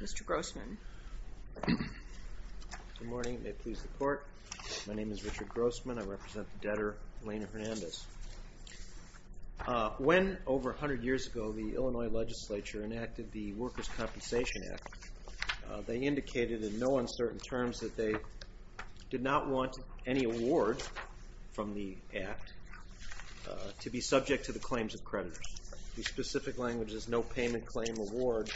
Mr. Grossman. Good morning. May it please the court. My name is Richard Grossman. I represent the debtor, Elena Hernandez. When, over 100 years ago, the Illinois legislature enacted the Workers' Compensation Act, they indicated in no uncertain terms that they did not want any award from the act to be subject to the claims of creditors. The specific language is no payment claim award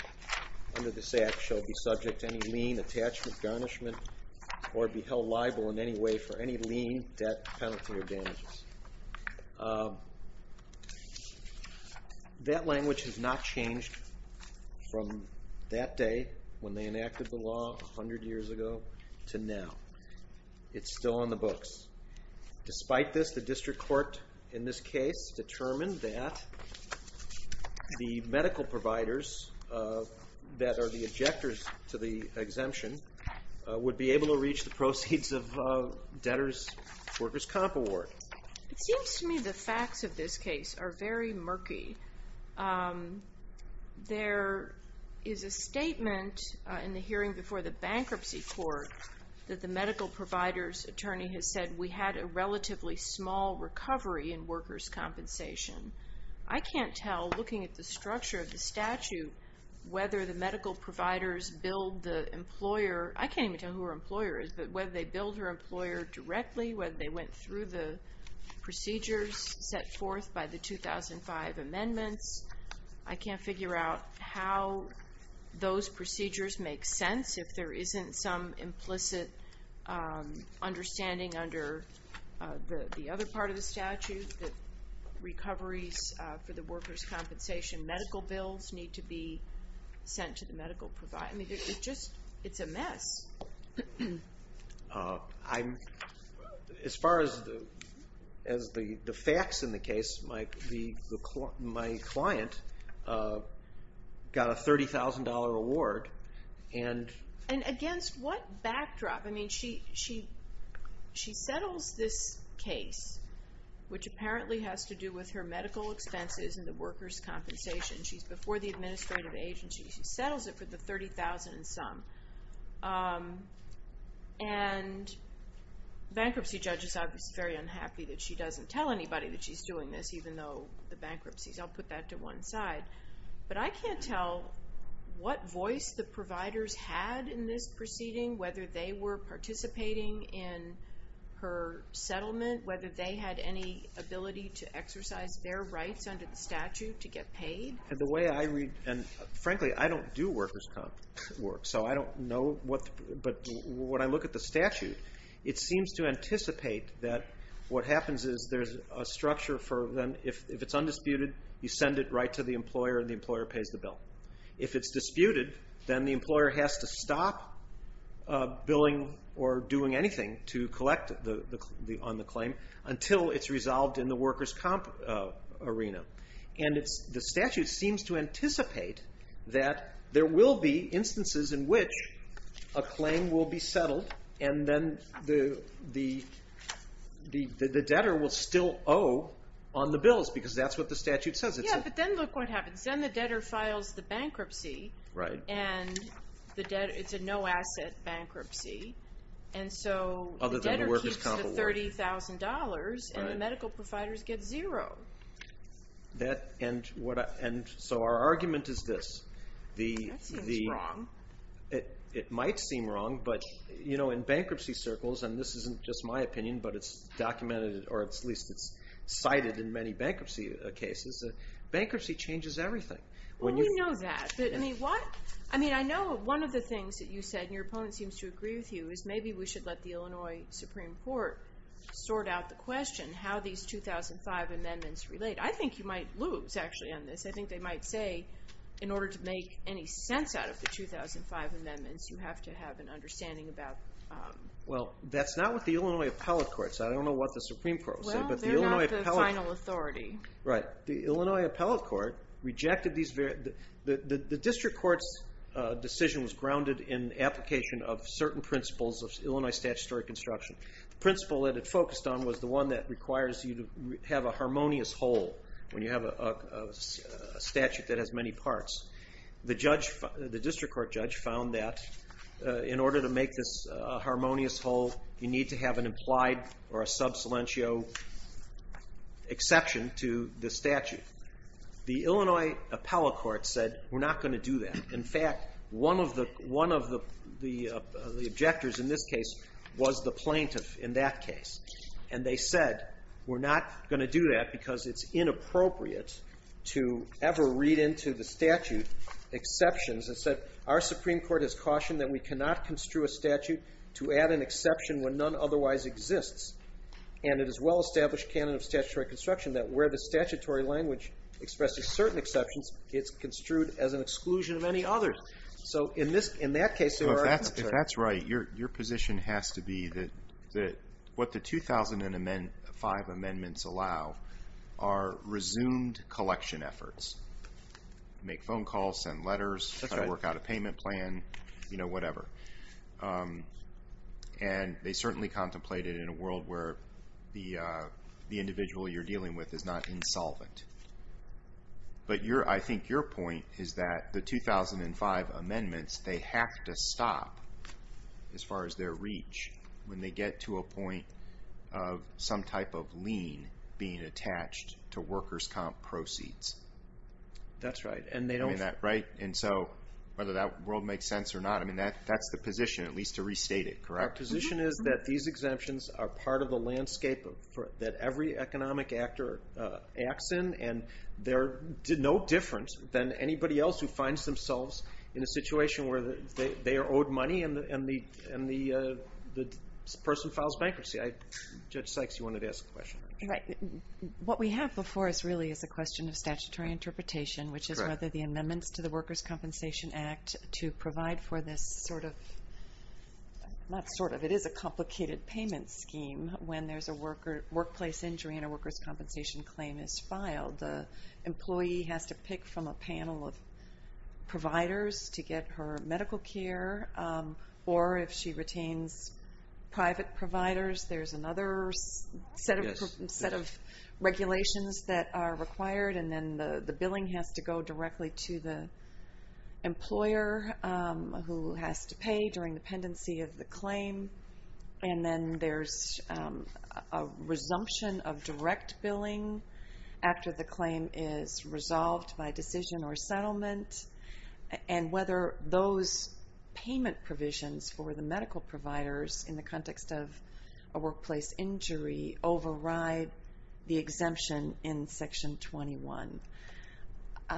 under this act shall be subject to any lien, attachment, garnishment, or be held liable in any way for any lien, debt, penalty, or damages. That language has not changed from that day, when they enacted the law 100 years ago, to now. It's still on the books. Despite this, the district court in this case determined that the medical providers that are the ejectors to the exemption would be able to reach the proceeds of debtors' workers' comp award. It seems to me the facts of this case are very murky. There is a statement in the hearing before the bankruptcy court that the medical provider's attorney has said, we had a relatively small recovery in workers' compensation. I can't tell, looking at the structure of the statute, whether the medical providers billed the employer. I can't even tell who her employer is, but whether they billed her employer directly, whether they went through the procedures set forth by the 2005 amendments. I can't figure out how those procedures make sense, if there isn't some recoveries for the workers' compensation. Medical bills need to be sent to the medical provider. It's a mess. As far as the facts in the case, my client got a $30,000 award. Against what backdrop? She settles this case, which apparently has to do with her medical expenses and the workers' compensation. She's before the administrative agency. She settles it for the $30,000 and some. Bankruptcy judges are very unhappy that she doesn't tell anybody that she's doing this, even though the bankruptcies. I'll put that to one side. I can't tell what voice the providers had in this proceeding, whether they were participating in her settlement, whether they had any ability to exercise their rights under the statute to get paid. Frankly, I don't do workers' comp work, so I don't know. But when I look at the statute, it seems to anticipate that what happens is there's a structure for them. If it's undisputed, you send it right to the employer, and the employer pays the bill. If it's disputed, then the employer has to stop billing or doing anything to collect on the claim until it's resolved in the workers' comp arena. The statute seems to anticipate that there will be instances in which a claim will be settled, and then the debtor will still owe on the bills, because that's what the statute says. Yeah, but then look what happens. Then the debtor files the bankruptcy, and it's a no-asset bankruptcy, and so the debtor keeps the $30,000, and the medical providers get zero. Our argument is this. That seems wrong. It might seem wrong, but in bankruptcy circles, and this isn't just my opinion, but it's documented, or at least it's cited in many bankruptcy cases, that bankruptcy changes everything. We know that. I mean, I know one of the things that you said, and your opponent seems to agree with you, is maybe we should let the Illinois Supreme Court sort out the question, how these 2005 amendments relate. I think you might lose, actually, on this. I think they might say, in order to make any sense out of the 2005 amendments, you have to have an understanding about... Well, that's not what the Illinois Appellate Court said. I don't know what the Supreme Court will say, but the Illinois Appellate... Well, they're not the final authority. Right. The Illinois Appellate Court rejected these... The district court's decision was grounded in application of certain principles of Illinois statutory construction. The principle that it focused on was the one that requires you to have a harmonious whole, when you have a statute that has many parts. The district court judge found that, in order to make this harmonious whole, you need to have an implied or a sub silentio exception to the statute. The Illinois Appellate Court said, we're not going to do that. In fact, one of the objectors in this case was the plaintiff in that case. And they said, we're not going to do that because it's inappropriate to ever read into the statute exceptions. It said, our Supreme Court has cautioned that we cannot construe a statute to add an exception when none otherwise exists. And it is well-established canon of statutory construction that where the statutory language expresses certain exceptions, it's construed as an exclusion of any others. So in that case... If that's right, your position has to be that what the 2005 amendments allow are resumed collection efforts. Make phone calls, send letters, try to work out a payment plan, whatever. And they certainly contemplated in a world where the individual you're dealing with is not insolvent. But I think your point is that the 2005 amendments, they have to stop, as far as their reach, when they get to a point of some type of lien being attached to workers' comp proceeds. That's right. Right? And so whether that world makes sense or not, that's the position, at least to restate it, correct? Our position is that these exemptions are part of the landscape that every economic actor acts in. And they're no different than anybody else who finds themselves in a situation where they are owed money and the person files bankruptcy. Judge Sykes, you wanted to ask a question. What we have before us really is a question of statutory interpretation, which is whether the amendments to the Workers' Compensation Act to provide for this sort of... Not sort of. It is a complicated payment scheme when there's a workplace injury and a workers' compensation claim is filed. The employee has to pick from a panel of providers to get her medical care. Or if she retains private providers, there's another set of regulations that are required. And then the billing has to go directly to the employer who has to pay during the pendency of the claim. And then there's a resumption of direct billing after the claim is resolved by decision or settlement. And whether those payment provisions for the medical providers in the context of a workplace injury override the exemption in Section 21. I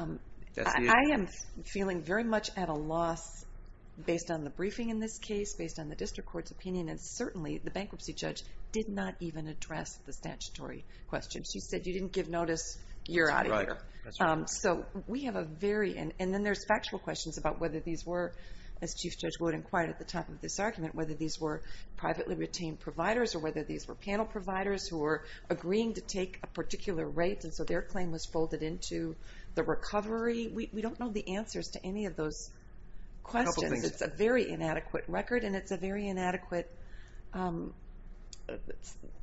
am feeling very much at a loss based on the briefing in this case, based on the district court's opinion, and certainly the bankruptcy judge did not even address the statutory question. She said, you didn't give notice, you're out of here. Right. So we have a very... And then there's factual questions about whether these were, as Chief Judge Wood inquired at the time of this argument, whether these were privately retained providers or whether these were panel providers who were agreeing to take a particular rate and so their claim was folded into the recovery. We don't know the answers to any of those questions. A couple things. I think this is a very inadequate record and it's a very inadequate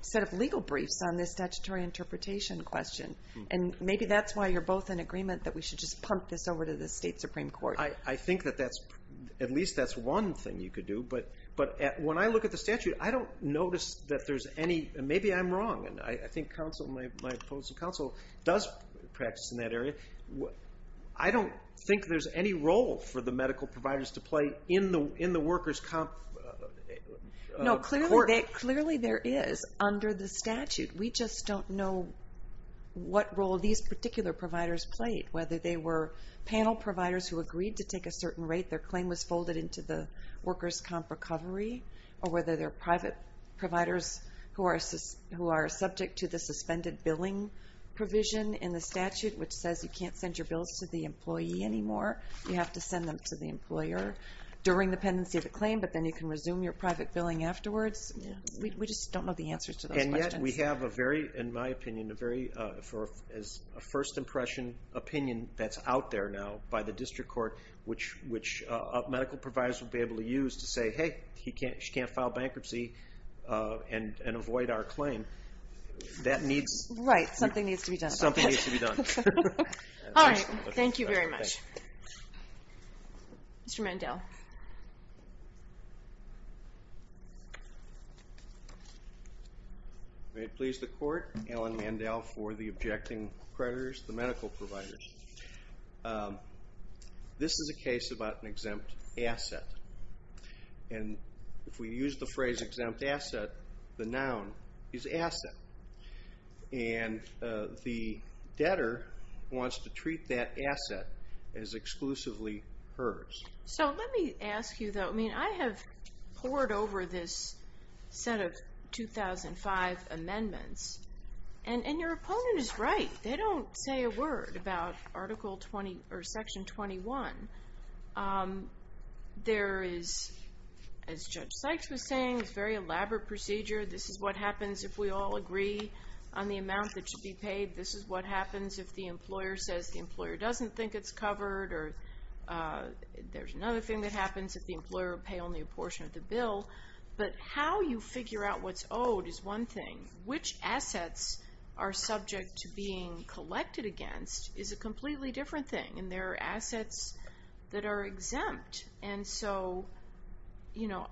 set of legal briefs on this statutory interpretation question. And maybe that's why you're both in agreement that we should just pump this over to the state Supreme Court. I think that that's, at least that's one thing you could do. But when I look at the statute, I don't notice that there's any, and maybe I'm wrong, and I think counsel, my opposing counsel does practice in that area. I don't think there's any role for the medical providers to play in the workers' comp court. No, clearly there is under the statute. We just don't know what role these particular providers played, whether they were panel providers who agreed to take a certain rate, their claim was folded into the workers' comp recovery, or whether they're private providers who are subject to the suspended billing provision in the statute, which says you can't send your bills to the employee anymore. You have to send them to the employer during the pendency of the claim, but then you can resume your private billing afterwards. We just don't know the answers to those questions. And yet we have a very, in my opinion, a very, as a first impression opinion that's out there now by the district court, which medical providers will be able to use to say, hey, she can't file bankruptcy and avoid our claim. That needs... Right, something needs to be done about it. Something needs to be done. All right, thank you very much. Mr. Mandel. May it please the court, Alan Mandel for the objecting creditors, the medical providers. This is a case about an exempt asset, and if we use the phrase exempt asset, the noun is asset, and the debtor wants to treat that asset as exclusively hers. So let me ask you, though. I mean, I have pored over this set of 2005 amendments, and your opponent is right. They don't say a word about Article 20 or Section 21. There is, as Judge Sykes was saying, this very elaborate procedure. This is what happens if we all agree on the amount that should be paid. This is what happens if the employer says the employer doesn't think it's covered, or there's another thing that happens if the employer will pay only a portion of the bill. But how you figure out what's owed is one thing. Which assets are subject to being collected against is a completely different thing, and there are exempt. And so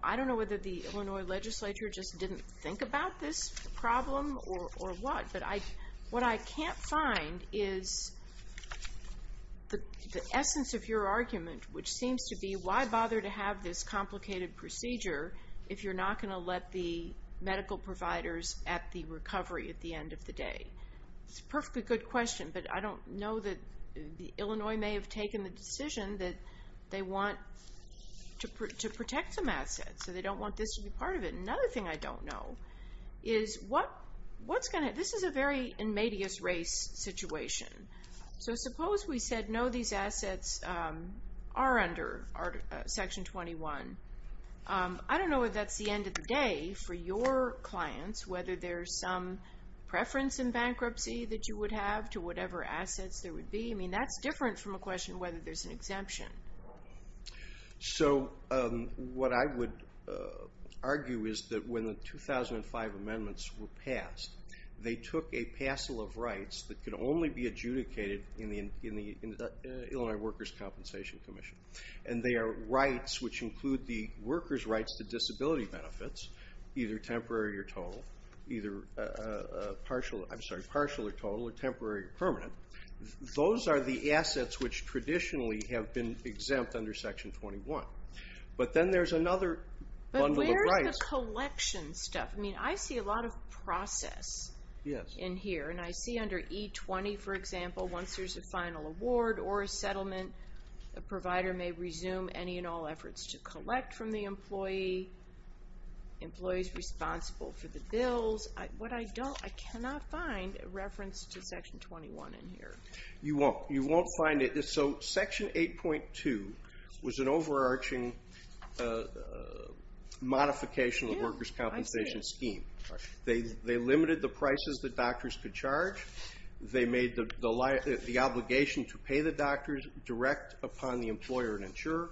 I don't know whether the Illinois legislature just didn't think about this problem or what, but what I can't find is the essence of your argument, which seems to be why bother to have this complicated procedure if you're not going to let the medical providers at the recovery at the end of the day? It's a perfectly good question, but I don't know that Illinois may have taken the decision that they want to protect some assets, so they don't want this to be part of it. Another thing I don't know is what's going to, this is a very inmateous race situation. So suppose we said no, these assets are under Section 21. I don't know if that's the end of the day for your clients, whether there's some exemption. So what I would argue is that when the 2005 amendments were passed, they took a parcel of rights that could only be adjudicated in the Illinois Workers' Compensation Commission. And they are rights which include the workers' rights to disability benefits, either temporary or total, either partial, I'm sorry, partial or total, or temporary or permanent. Those are the assets which traditionally have been exempt under Section 21. But then there's another bundle of rights. But where is the collection stuff? I mean, I see a lot of process in here, and I see under E20, for example, once there's a final award or a settlement, the provider may resume any and all efforts to collect from the employee, employees responsible for the bills. What I don't, I cannot find a reference to Section 21 in here. You won't. You won't find it. So Section 8.2 was an overarching modification of the workers' compensation scheme. They limited the prices that doctors could charge. They made the obligation to pay the doctors direct upon the employer and insurer.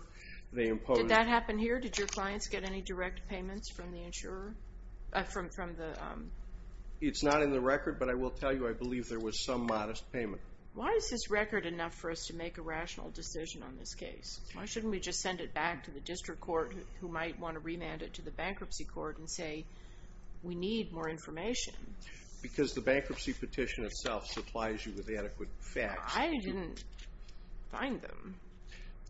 Did that happen here? Did your clients get any direct payments from the insurer? It's not in the record, but I will tell you I believe there was some modest payment. Why is this record enough for us to make a rational decision on this case? Why shouldn't we just send it back to the district court who might want to remand it to the bankruptcy court and say, we need more information? Because the bankruptcy petition itself supplies you with adequate facts. I didn't find them.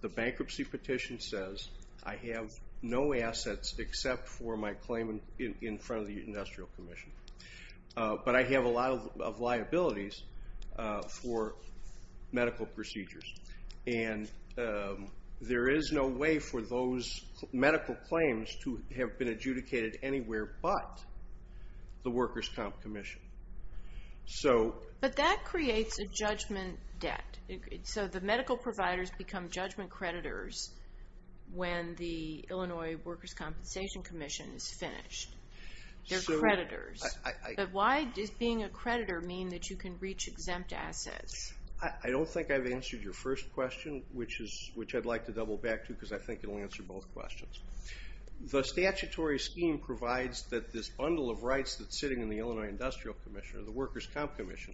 The bankruptcy petition says I have no assets except for my claim in front of the industrial commission, but I have a lot of liabilities for medical procedures, and there is no way for those medical claims to have been adjudicated anywhere but the workers' comp commission. But that creates a judgment debt. So the medical providers become judgment creditors when the Illinois workers' compensation commission is finished. They're creditors. But why does being a creditor mean that you can reach exempt assets? I don't think I've answered your first question, which I'd like to double back to because I think it will answer both questions. The statutory scheme provides that this bundle of rights that's sitting in the Illinois industrial commission or the workers' comp commission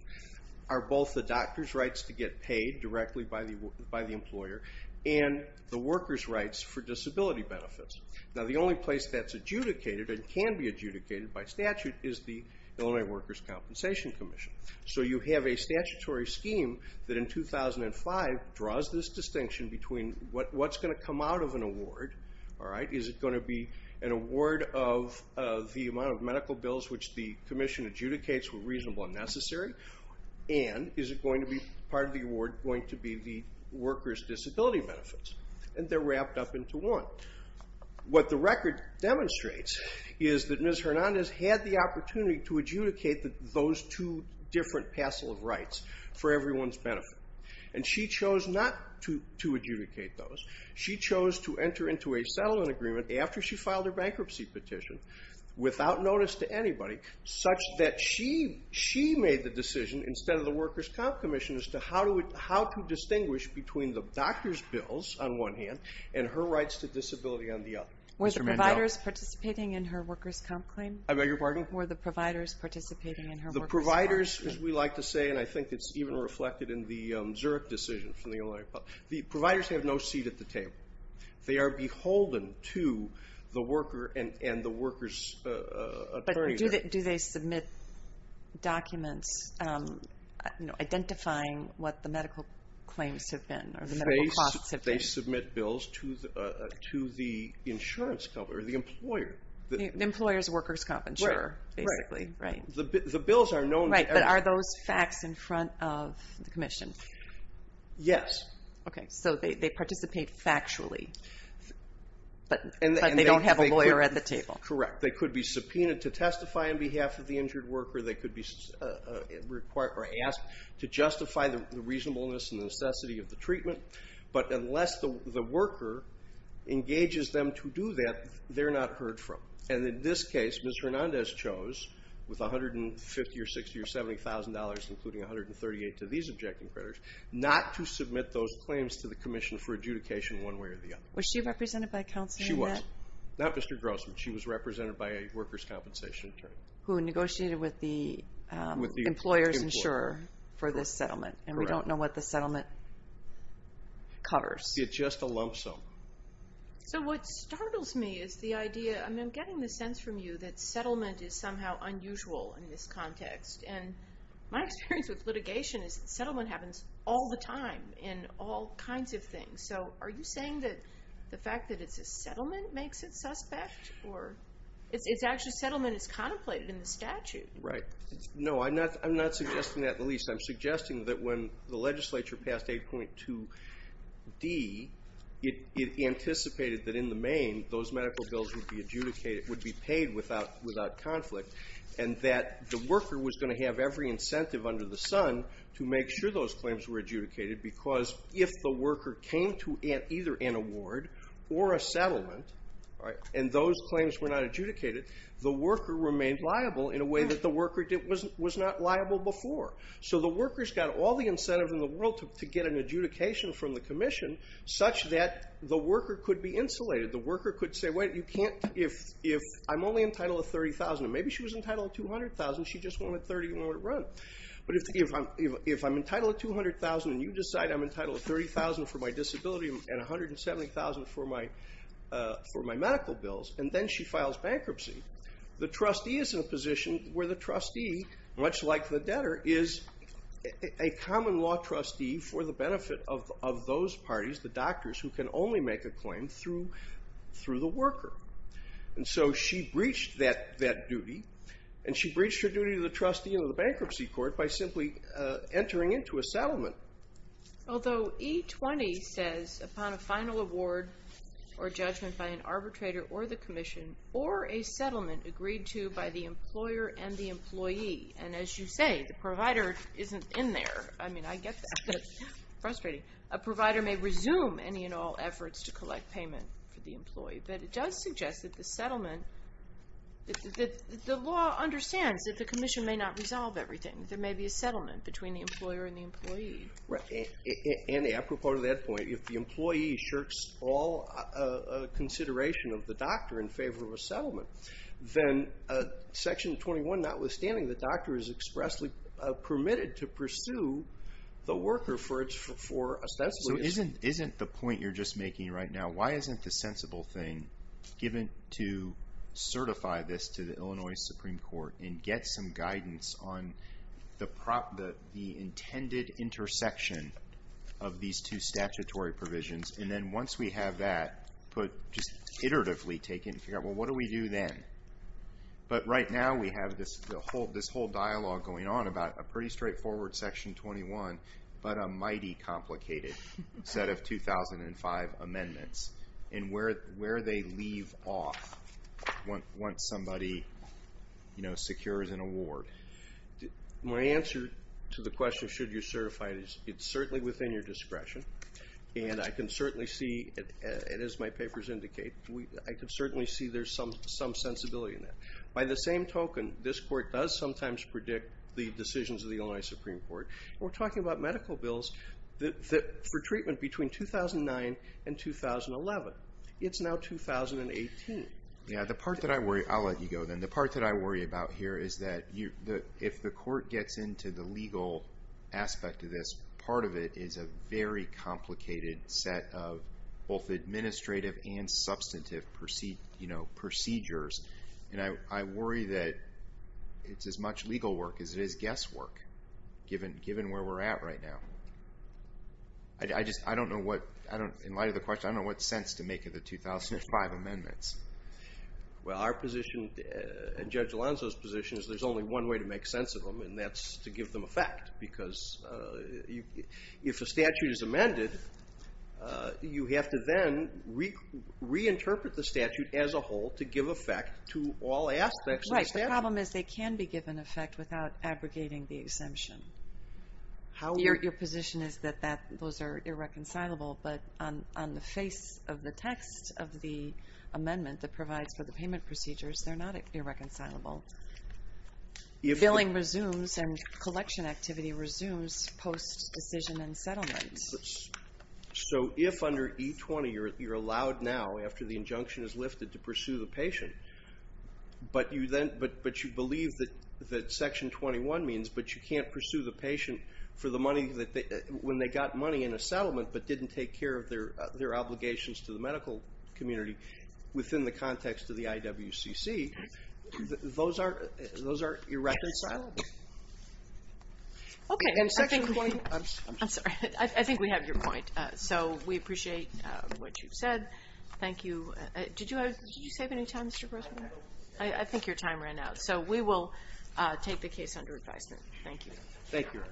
are both the doctor's rights to get paid directly by the employer and the workers' rights for disability benefits. Now, the only place that's adjudicated and can be adjudicated by statute is the Illinois workers' compensation commission. So you have a statutory scheme that in 2005 draws this distinction between what's going to come out of an award, is it going to be an award of the amount of medical bills which the commission adjudicates were reasonable and necessary, and is part of the award going to be the workers' disability benefits? And they're wrapped up into one. What the record demonstrates is that Ms. Hernandez had the opportunity to adjudicate those two for everyone's benefit. And she chose not to adjudicate those. She chose to enter into a settlement agreement after she filed her bankruptcy petition without notice to anybody such that she made the decision instead of the workers' comp commission as to how to distinguish between the doctor's bills on one hand and her rights to disability on the other. Were the providers participating in her workers' comp claim? Were the providers participating in her workers' comp claim? The providers, as we like to say, and I think it's even reflected in the Zurich decision from the Illinois Republic, the providers have no seat at the table. They are beholden to the worker and the workers' attorney. But do they submit documents identifying what the medical claims have been or the medical costs have been? They submit bills to the insurance company or the employer. The employer's workers' comp insurer, basically, right? The bills are known. Right, but are those facts in front of the commission? Yes. Okay, so they participate factually, but they don't have a lawyer at the table. Correct. They could be subpoenaed to testify on behalf of the injured worker. They could be asked to justify the reasonableness and necessity of the treatment. But unless the worker engages them to do that, they're not heard from. And in this case, Ms. Hernandez chose, with $150,000 or $60,000 or $70,000, including $138,000 to these objecting creditors, not to submit those claims to the commission for adjudication one way or the other. Was she represented by counsel in that? She was. Not Mr. Grossman. She was represented by a workers' compensation attorney. Who negotiated with the employer's insurer for this settlement, and we don't know what the settlement covers. It's just a lump sum. So what startles me is the idea, and I'm getting the sense from you, that settlement is somehow unusual in this context. And my experience with litigation is that settlement happens all the time in all kinds of things. So are you saying that the fact that it's a settlement makes it suspect? Or it's actually settlement is contemplated in the statute. Right. No, I'm not suggesting that at least. It anticipated that in the main, those medical bills would be adjudicated, would be paid without conflict, and that the worker was going to have every incentive under the sun to make sure those claims were adjudicated because if the worker came to either an award or a settlement, and those claims were not adjudicated, the worker remained liable in a way that the worker was not liable before. So the worker's got all the incentive in the world to get an adjudication from the commission such that the worker could be insulated. The worker could say, wait, I'm only entitled to $30,000. Maybe she was entitled to $200,000. She just wanted $30,000 to run. But if I'm entitled to $200,000 and you decide I'm entitled to $30,000 for my disability and $170,000 for my medical bills, and then she files bankruptcy, the trustee is in a position where the trustee, much like the debtor, is a common law trustee for the benefit of those parties, the doctors, who can only make a claim through the worker. And so she breached that duty, and she breached her duty to the trustee in the bankruptcy court by simply entering into a settlement. Although E-20 says, upon a final award or judgment by an arbitrator or the commission or a settlement agreed to by the employer and the employee, and as you say, the provider isn't in there. I mean, I get that. It's frustrating. A provider may resume any and all efforts to collect payment for the employee. But it does suggest that the settlement, that the law understands that the commission may not resolve everything. There may be a settlement between the employer and the employee. And apropos to that point, if the employee shirks all consideration of the doctor in favor of a settlement, then Section 21, notwithstanding the doctor is expressly permitted to pursue the worker for a settlement. So isn't the point you're just making right now, why isn't the sensible thing given to certify this to the Illinois Supreme Court and get some guidance on the intended intersection of these two statutory provisions? And then once we have that, just iteratively take it and figure out, well, what do we do then? But right now we have this whole dialogue going on about a pretty straightforward Section 21, but a mighty complicated set of 2005 amendments, and where they leave off once somebody secures an award. My answer to the question, should you certify this, it's certainly within your discretion. And I can certainly see, and as my papers indicate, I can certainly see there's some sensibility in that. By the same token, this court does sometimes predict the decisions of the Illinois Supreme Court. We're talking about medical bills for treatment between 2009 and 2011. It's now 2018. Yeah, the part that I worry about here is that if the court gets into the legal aspect of this, part of it is a very complicated set of both administrative and substantive procedures. And I worry that it's as much legal work as it is guesswork, given where we're at right now. I just don't know what, in light of the question, I don't know what sense to make of the 2005 amendments. Well, our position and Judge Alonzo's position is there's only one way to make sense of them, and that's to give them effect. Because if a statute is amended, you have to then reinterpret the statute as a whole to give effect to all aspects of the statute. Right. The problem is they can be given effect without abrogating the exemption. Your position is that those are irreconcilable, but on the face of the text of the amendment that provides for the payment procedures, they're not irreconcilable. Billing resumes and collection activity resumes post-decision and settlement. So if under E20 you're allowed now, after the injunction is lifted, to pursue the patient, but you believe that Section 21 means but you can't pursue the patient for the money when they got money in a settlement but didn't take care of their obligations to the medical community within the context of the IWCC, those are irreconcilable. Okay. I'm sorry. I think we have your point. So we appreciate what you've said. Thank you. Did you save any time, Mr. Grossman? I think your time ran out. So we will take the case under advisement. Thank you. Thank you.